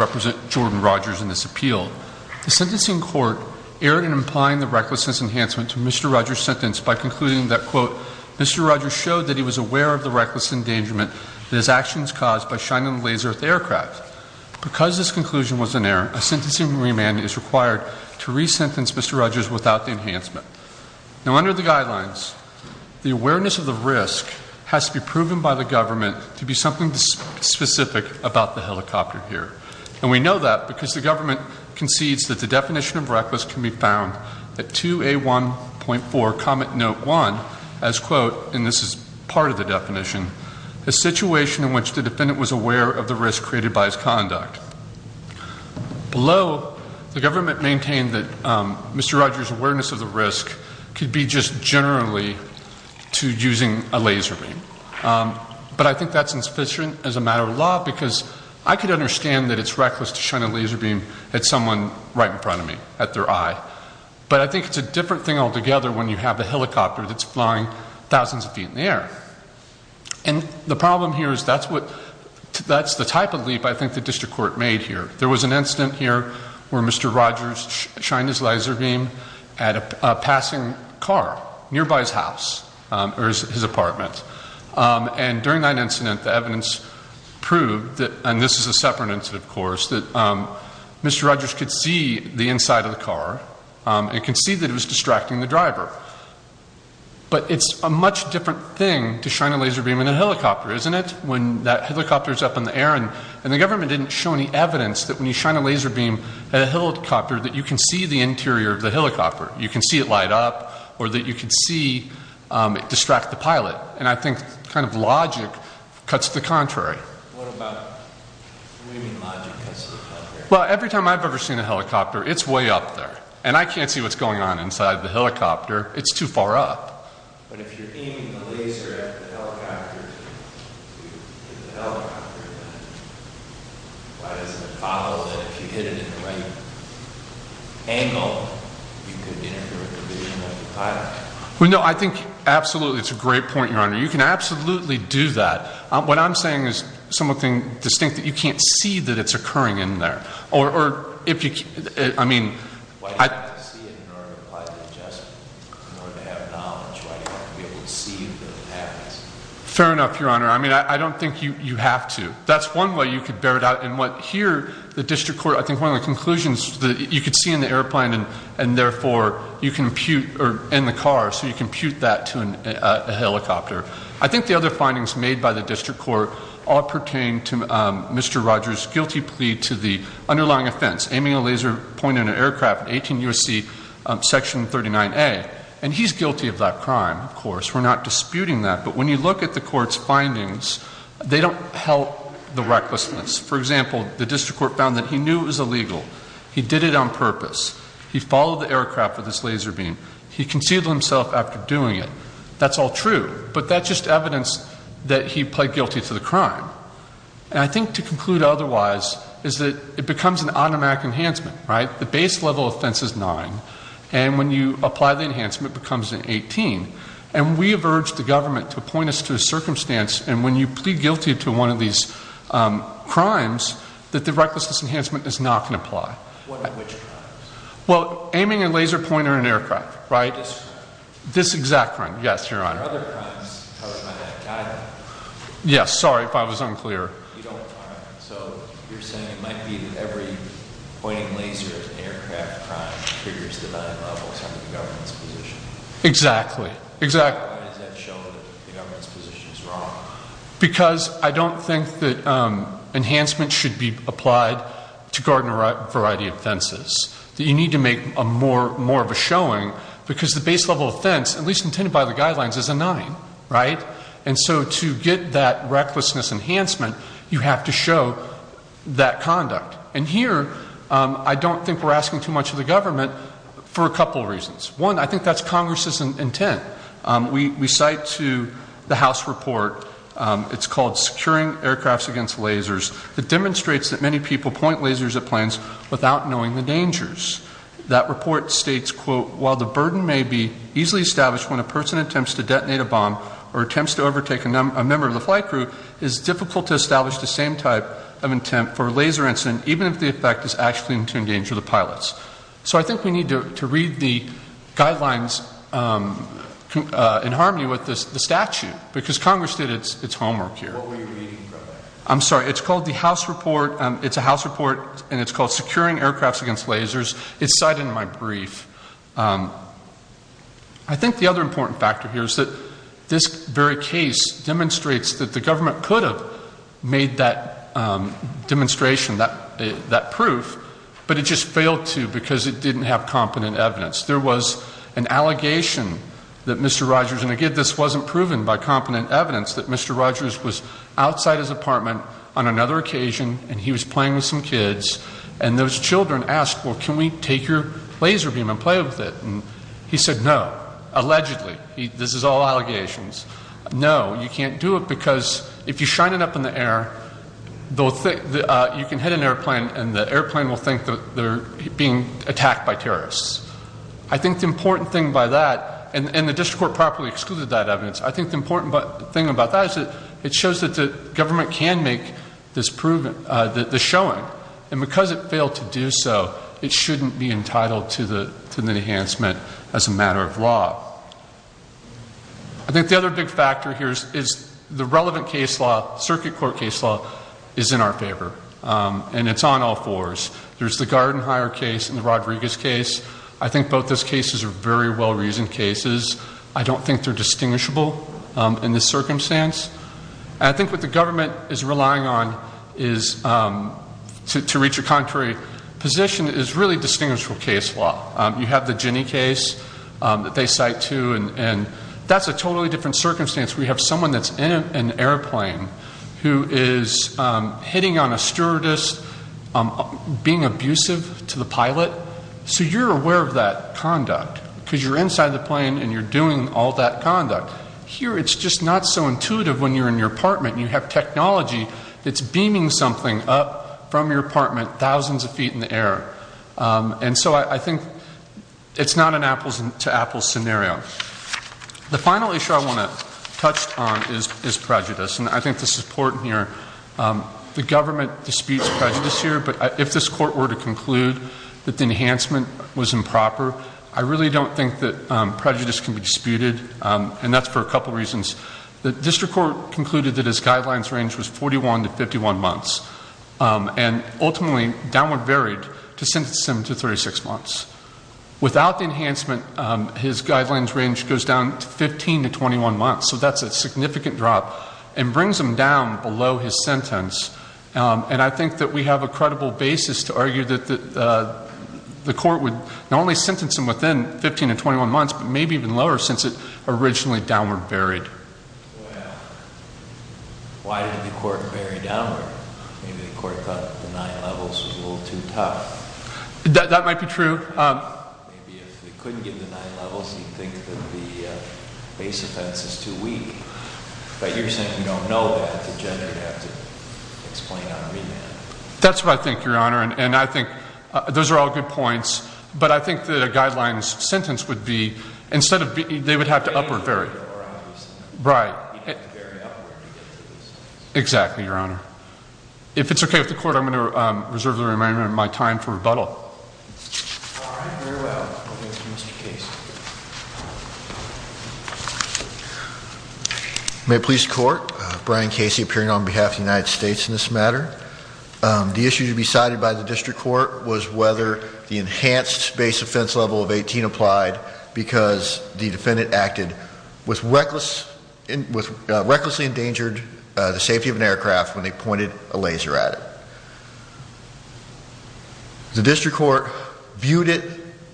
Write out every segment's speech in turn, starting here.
In his appeal, the sentencing court erred in implying the recklessness enhancement to Mr. Rogers' sentence by concluding that, quote, Mr. Rogers showed that he was aware of the reckless endangerment that his actions caused by shining laser at the aircraft. Because this conclusion was inerrant, a sentencing remand is required to re-sentence Mr. Rogers without the enhancement. Now under the guidelines, the awareness of the risk has to be proven by the government to be something specific about the helicopter here. And we know that because the government concedes that the definition of reckless can be found at 2A1.4 comment note 1 as, quote, and this is part of the definition, a situation in which the defendant was aware of the risk created by his conduct. Below, the government maintained that Mr. Rogers' awareness of the risk could be just generally to using a laser beam. But I think that's insufficient as a matter of law because I could understand that it's reckless to shine a laser beam at someone right in front of me, at their eye. But I think it's a different thing altogether when you have a helicopter that's flying thousands of feet in the air. And the problem here is that's what, that's the type of leap I think the district court made here. There was an incident here where Mr. Rogers shined his laser beam at a passing car nearby his house or his apartment. And during that incident, the evidence proved that, and this is a separate incident, of course, that Mr. Rogers could see the inside of the car and could see that it was distracting the driver. But it's a much different thing to shine a laser beam in a helicopter, isn't it? When that helicopter's up in the air and the government didn't show any evidence that when you shine a laser beam at a helicopter that you can see the interior of the helicopter. You can see it light up or that you can see it distract the pilot. And I think kind of logic cuts to the contrary. What about, what do you mean logic cuts to the contrary? Well, every time I've ever seen a helicopter, it's way up there. And I can't see what's going on inside the helicopter. It's too far up. But if you're aiming the laser at the helicopter, why doesn't it follow it? If you hit it at the right angle, you could interfere with the vision of the pilot. Well, no, I think absolutely it's a great point, Your Honor. You can absolutely do that. What I'm saying is something distinct that you can't see that it's occurring in there. Why do you have to see it in order to apply the adjustment? In order to have knowledge, why do you have to be able to see that it happens? Fair enough, Your Honor. I mean, I don't think you have to. That's one way you could bear it out. And here, the district court, I think one of the conclusions, you could see in the airplane and therefore you can impute, or in the car, so you can impute that to a helicopter. I think the other findings made by the district court all pertain to Mr. Rogers' guilty plea to the underlying offense, aiming a laser point at an aircraft in 18 U.S.C. Section 39A. And he's guilty of that crime, of course. We're not disputing that. But when you look at the court's findings, they don't help the recklessness. For example, the district court found that he knew it was illegal. He did it on purpose. He followed the aircraft with his laser beam. He conceived of himself after doing it. That's all true. But that's just evidence that he pled guilty to the crime. And I think to conclude otherwise is that it becomes an automatic enhancement, right? The base level offense is nine. And when you apply the enhancement, it becomes an 18. And we have urged the government to appoint us to a circumstance, and when you plead guilty to one of these crimes, that the recklessness enhancement is not going to apply. What and which crimes? Well, aiming a laser point at an aircraft, right? This crime? This exact crime, yes, Your Honor. What about other crimes? Yes, sorry if I was unclear. Exactly, exactly. Because I don't think that enhancement should be applied to guard a variety of offenses. You need to make more of a showing because the base level offense, at least intended by the guidelines, is a nine. Right? And so to get that recklessness enhancement, you have to show that conduct. And here, I don't think we're asking too much of the government for a couple of reasons. One, I think that's Congress's intent. We cite to the House report, it's called Securing Aircrafts Against Lasers, that demonstrates that many people point lasers at planes without knowing the dangers. That report states, quote, while the burden may be easily established when a person attempts to detonate a bomb or attempts to overtake a member of the flight crew, it is difficult to establish the same type of intent for a laser incident, even if the effect is actually to endanger the pilots. So I think we need to read the guidelines in harmony with the statute, because Congress did its homework here. What were you reading from it? I'm sorry, it's called the House report. It's a House report, and it's called Securing Aircrafts Against Lasers. It's cited in my brief. I think the other important factor here is that this very case demonstrates that the government could have made that demonstration, that proof, but it just failed to because it didn't have competent evidence. There was an allegation that Mr. Rogers, and again this wasn't proven by competent evidence, that Mr. Rogers was outside his apartment on another occasion, and he was playing with some kids, and those children asked, well, can we take your laser beam and play with it? And he said no, allegedly. This is all allegations. No, you can't do it because if you shine it up in the air, you can hit an airplane, and the airplane will think that they're being attacked by terrorists. I think the important thing by that, and the district court properly excluded that evidence, I think the important thing about that is that it shows that the government can make this showing, and because it failed to do so, it shouldn't be entitled to the enhancement as a matter of law. I think the other big factor here is the relevant case law, circuit court case law, is in our favor, and it's on all fours. There's the Garden Hire case and the Rodriguez case. I think both those cases are very well-reasoned cases. I don't think they're distinguishable in this circumstance. I think what the government is relying on to reach a contrary position is really distinguishable case law. You have the Ginnie case that they cite too, and that's a totally different circumstance. We have someone that's in an airplane who is hitting on a stewardess, being abusive to the pilot. So you're aware of that conduct because you're inside the plane and you're doing all that conduct. Here it's just not so intuitive when you're in your apartment and you have technology that's beaming something up from your apartment thousands of feet in the air. And so I think it's not an apples-to-apples scenario. The final issue I want to touch on is prejudice, and I think this is important here. The government disputes prejudice here, but if this court were to conclude that the enhancement was improper, I really don't think that prejudice can be disputed, and that's for a couple of reasons. The district court concluded that his guidelines range was 41 to 51 months, and ultimately downward varied to sentence him to 36 months. Without the enhancement, his guidelines range goes down to 15 to 21 months, so that's a significant drop, and brings him down below his sentence. And I think that we have a credible basis to argue that the court would only sentence him within 15 to 21 months, but maybe even lower since it originally downward varied. Well, why did the court vary downward? Maybe the court thought the nine levels was a little too tough. That might be true. Maybe if they couldn't give the nine levels, you'd think that the base offense is too weak, but you're saying you don't know that the judge would have to explain on remand. That's what I think, Your Honor, and I think those are all good points, but I think that a guidelines sentence would be, instead of, they would have to upward vary. Right. Exactly, Your Honor. If it's okay with the court, I'm going to reserve the remainder of my time for rebuttal. All right. Very well. Thank you, Mr. Casey. May it please the court, Brian Casey appearing on behalf of the United States in this matter. The issue to be cited by the district court was whether the enhanced base offense level of 18 applied because the defendant acted with recklessly endangered the safety of an aircraft when they pointed a laser at it. The district court viewed it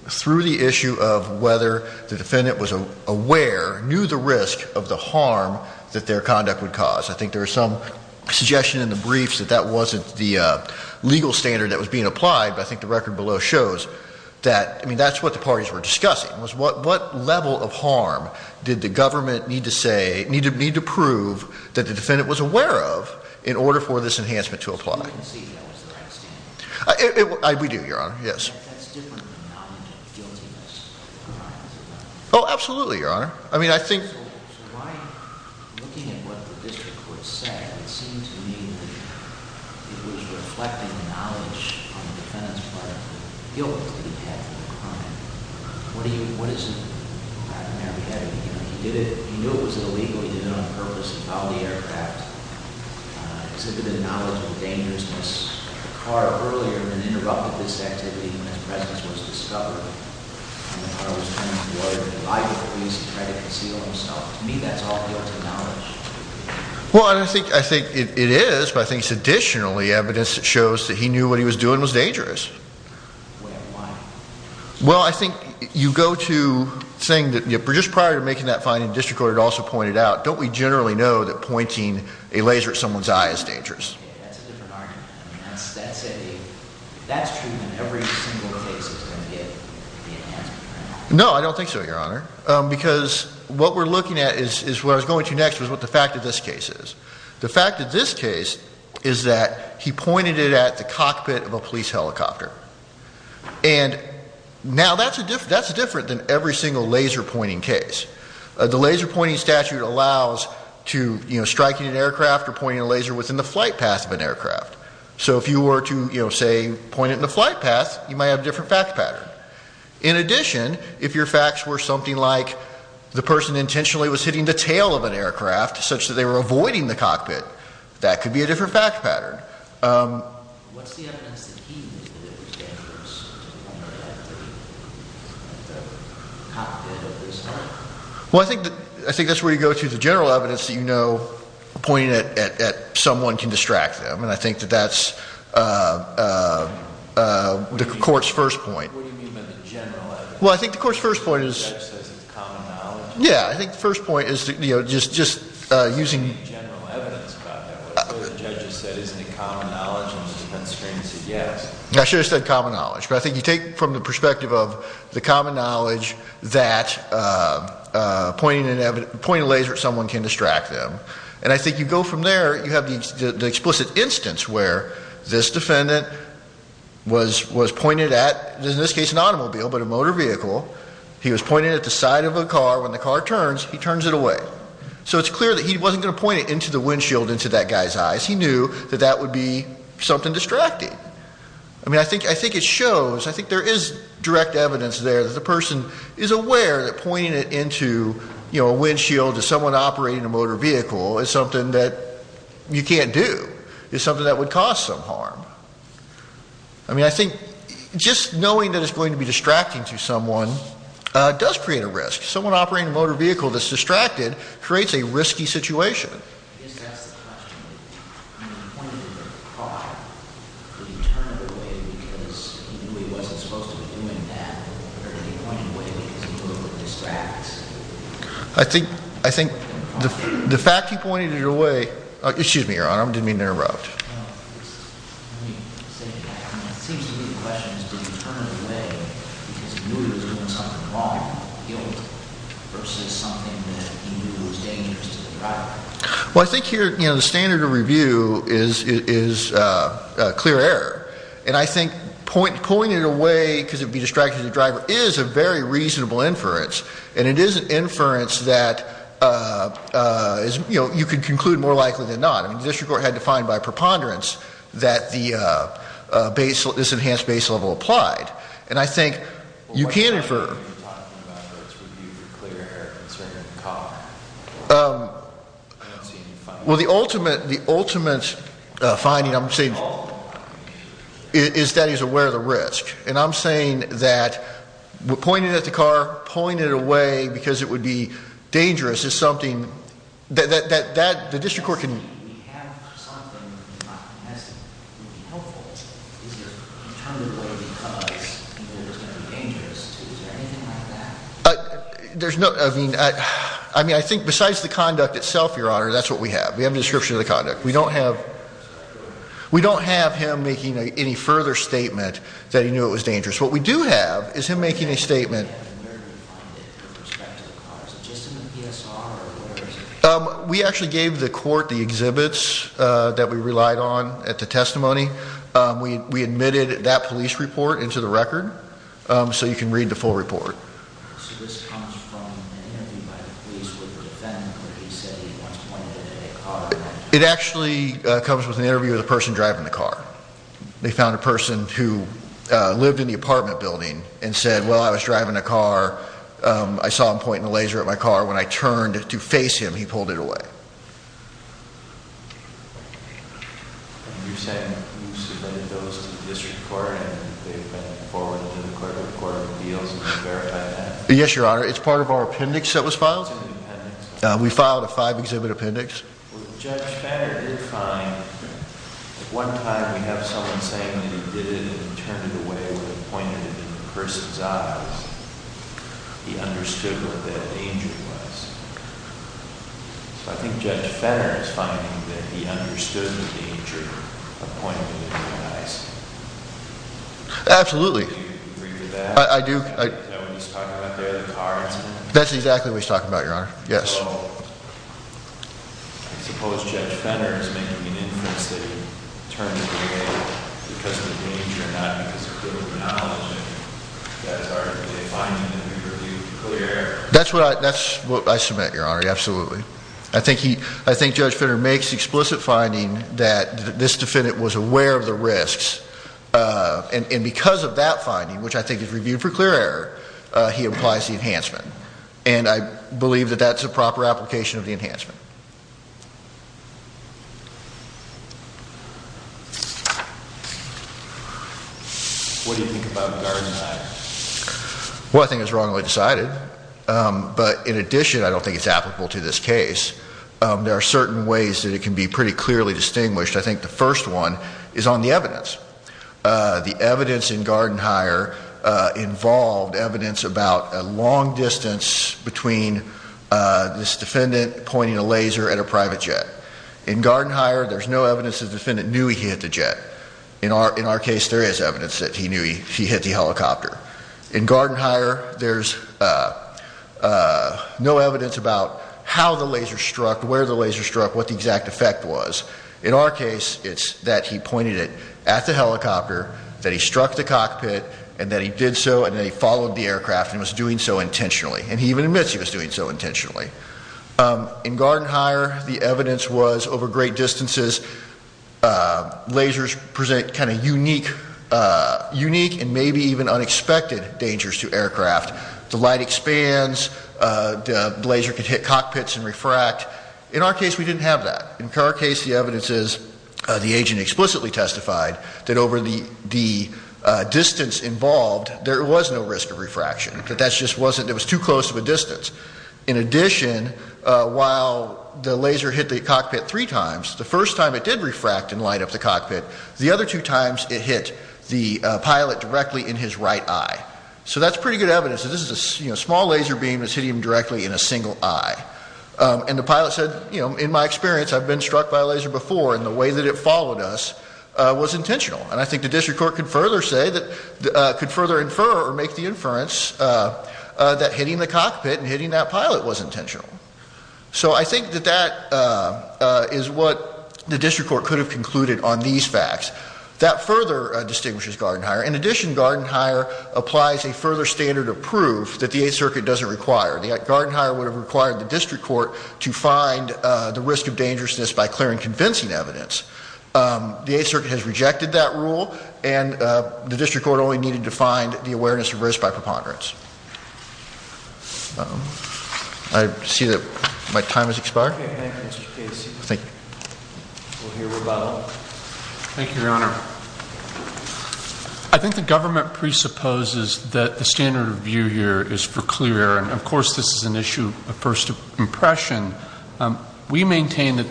through the issue of whether the defendant was aware, knew the risk of the harm that their conduct would cause. I think there was some suggestion in the briefs that that wasn't the legal standard that was being applied, but I think the record below shows that, I mean, that's what the parties were discussing was what level of harm did the government need to say, need to prove that the defendant was aware of in order for this enhancement to apply? We do, Your Honor. Yes. Oh, absolutely, Your Honor. So Brian, looking at what the district court said, it seemed to me that it was reflecting the knowledge on the defendant's part of the guilt that he had for the crime. What is the pattern there? He knew it was illegal. He did it on purpose. He filed the aircraft. Exhibited a knowledge of dangerousness. The car earlier had been interrupted with this activity when his presence was discovered. I was trying to avoid it. I was trying to conceal myself. To me, that's all guilt and knowledge. Well, I think it is, but I think it's additionally evidence that shows that he knew what he was doing was dangerous. Why? Well, I think you go to saying that just prior to making that finding, the district court had also pointed out, don't we generally know that pointing a laser at someone's eye is dangerous? That's a different argument. That's true in every single case. No, I don't think so, Your Honor, because what we're looking at is what I was going to next was what the fact of this case is. The fact of this case is that he pointed it at the cockpit of a police helicopter. And now that's a different, that's different than every single laser pointing case. The laser pointing statute allows to, you know, pointing a laser within the flight path of an aircraft. So if you were to, you know, say point it in the flight path, you might have a different fact pattern. In addition, if your facts were something like the person intentionally was hitting the tail of an aircraft such that they were avoiding the cockpit, that could be a different fact pattern. Well, I think that, I think that's where you go to the general evidence that you know pointing at, at, at someone can distract them. And I think that that's the court's first point. Well, I think the court's first point is, yeah, I think the first point is, you know, just, just using common knowledge. But I think you take from the perspective of the common knowledge that pointing a laser at someone can distract them. And I think you go from there, you have the explicit instance where this defendant was, was pointed at, in this case, an automobile, but a motor vehicle. He was pointed at the side of a car when the car turns, he turns it away. So it's clear that he wasn't going to point it into the windshield, into that guy's eyes. He knew that that would be something distracting. I mean, I think, I think it shows, I think there is direct evidence there that the person is aware that pointing it into, you know, a windshield to someone operating a motor vehicle is something that you can't do is something that would cause some harm. I mean, I think just knowing that it's going to be distracting to someone does create a risk. Someone operating a motor vehicle that's distracted creates a risky situation. I think, I think the, the fact he pointed it away, excuse me, Your Honor, I didn't mean to interrupt. Well, I think here, you know, the standard of review is, is a clear error. And I think point, pointing it away because it'd be distracting to the driver is a very reasonable inference. And it is an inference that is, you know, you can conclude more likely than not. I mean, the district court had to find by preponderance that the base, this enhanced base level applied. And I think you can infer. Well, the ultimate, the ultimate finding, I'm saying, is that he's aware of the risk. And I'm saying that pointing it at the car, pulling it away because it would be dangerous is something that, that, that the district court can. There's no, I mean, I, I mean, I think besides the conduct itself, Your Honor, that's what we have. We have the description of the conduct. We don't have, we don't have him making any further statement that he knew it was dangerous. What we do have is him making a statement. We actually gave the court the exhibits that we relied on at the testimony. We admitted that police report into the record. So you can read the full report. So this comes from. It actually comes with an interview with a person driving the car. They found a person who lived in the apartment building and said, well, I was driving a car. I saw him pointing a laser at my car. When I turned to face him, he pulled it away. Yes, Your Honor. It's part of our appendix that was filed. We filed a five exhibit appendix. Absolutely. I do. That's exactly what he's talking about, Your Honor. Yes. That's what I, that's what I submit, Your Honor. Absolutely. I think he, I think judge Finner makes explicit finding that this defendant was aware of the risks. And because of that finding, which I think is reviewed for clear error, he implies the enhancement. And I believe that that's a proper application of the enhancement. Well, I think it was wrongly decided. But in addition, I don't think it's applicable to this case. There are certain ways that it can be pretty clearly distinguished. I think the first one is on the evidence. The evidence in Garden Hire involved evidence about a long distance between this defendant pointing a laser at a private jet. In Garden Hire, there's no evidence the defendant knew he hit the jet. In our case, there is evidence that he knew he hit the helicopter. In Garden Hire, there's no evidence about how the laser struck, where the laser struck, what the exact effect was. In our case, it's that he pointed it at the helicopter, that he struck the cockpit, and that he did so and then he followed the aircraft and was doing so intentionally. And he even admits he was doing so intentionally. In Garden Hire, the evidence was over great distances, lasers present kind of unique and maybe even unexpected dangers to aircraft. The light expands. The laser could hit cockpits and refract. In our case, we didn't have that. In our case, the evidence is the agent explicitly testified that over the distance involved, there was no risk of refraction. That that just wasn't, it was too close of a distance. In addition, while the laser hit the cockpit three times, the first time it did refract and light up the cockpit, the other two times it hit the pilot directly in his right eye. So that's pretty good evidence that this is a small laser beam that's hitting him directly in a single eye. And the pilot said, you know, in my experience, I've been struck by a laser before and the way that it followed us was intentional. And I think the district court could further say that, could further infer or make the inference that hitting the cockpit and hitting that pilot was intentional. So I think that that is what the district court could have concluded on these facts. That further distinguishes Garden Hire. In addition, Garden Hire applies a further standard of proof that the Eighth Circuit doesn't require. The Garden Hire would have required the district court to find the risk of dangerousness by clearing convincing evidence. The Eighth Circuit has rejected that rule and the district court only needed to find the awareness of risk by preponderance. I see that my time has expired. Thank you, Your Honor. I think the government presupposes that the standard of view here is for clear error. And, of course, this is an issue of first impression. We maintain that...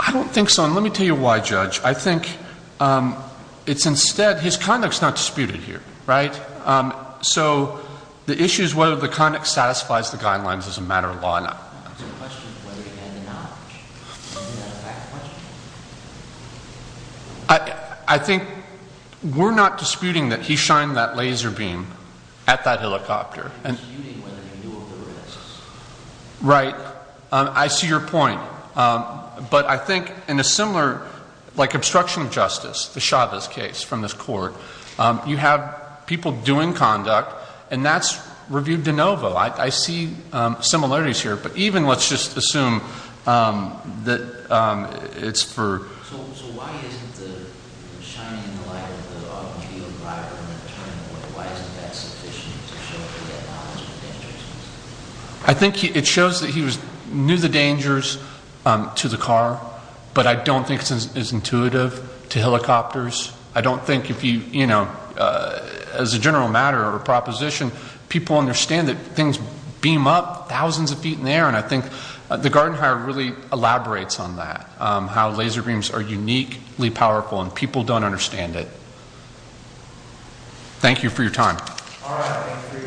I don't think so. And let me tell you why, Judge. I think it's instead, his conduct is not disputed here, right? So the issue is whether the conduct satisfies the guidelines as a matter of law or not. I think we're not disputing that he shined that laser beam at that helicopter. Right. I see your point. But I think in a similar, like, obstruction of justice, the Chavez case from this court, you have people doing conduct and that's reviewed de novo. I see similarities here. But even like in the case of Chavez, let's just assume that it's for... I think it shows that he knew the dangers to the car. But I don't think it's intuitive to helicopters. I don't think if you, you know, as a general matter or proposition, people understand that things beam up thousands of feet in the air. And I think the garden hire really elaborates on that, how laser beams are uniquely powerful and people don't understand it. Thank you for your time. All right. Thank you for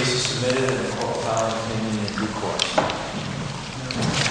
your... case is submitted and the court will file an opinion in due course.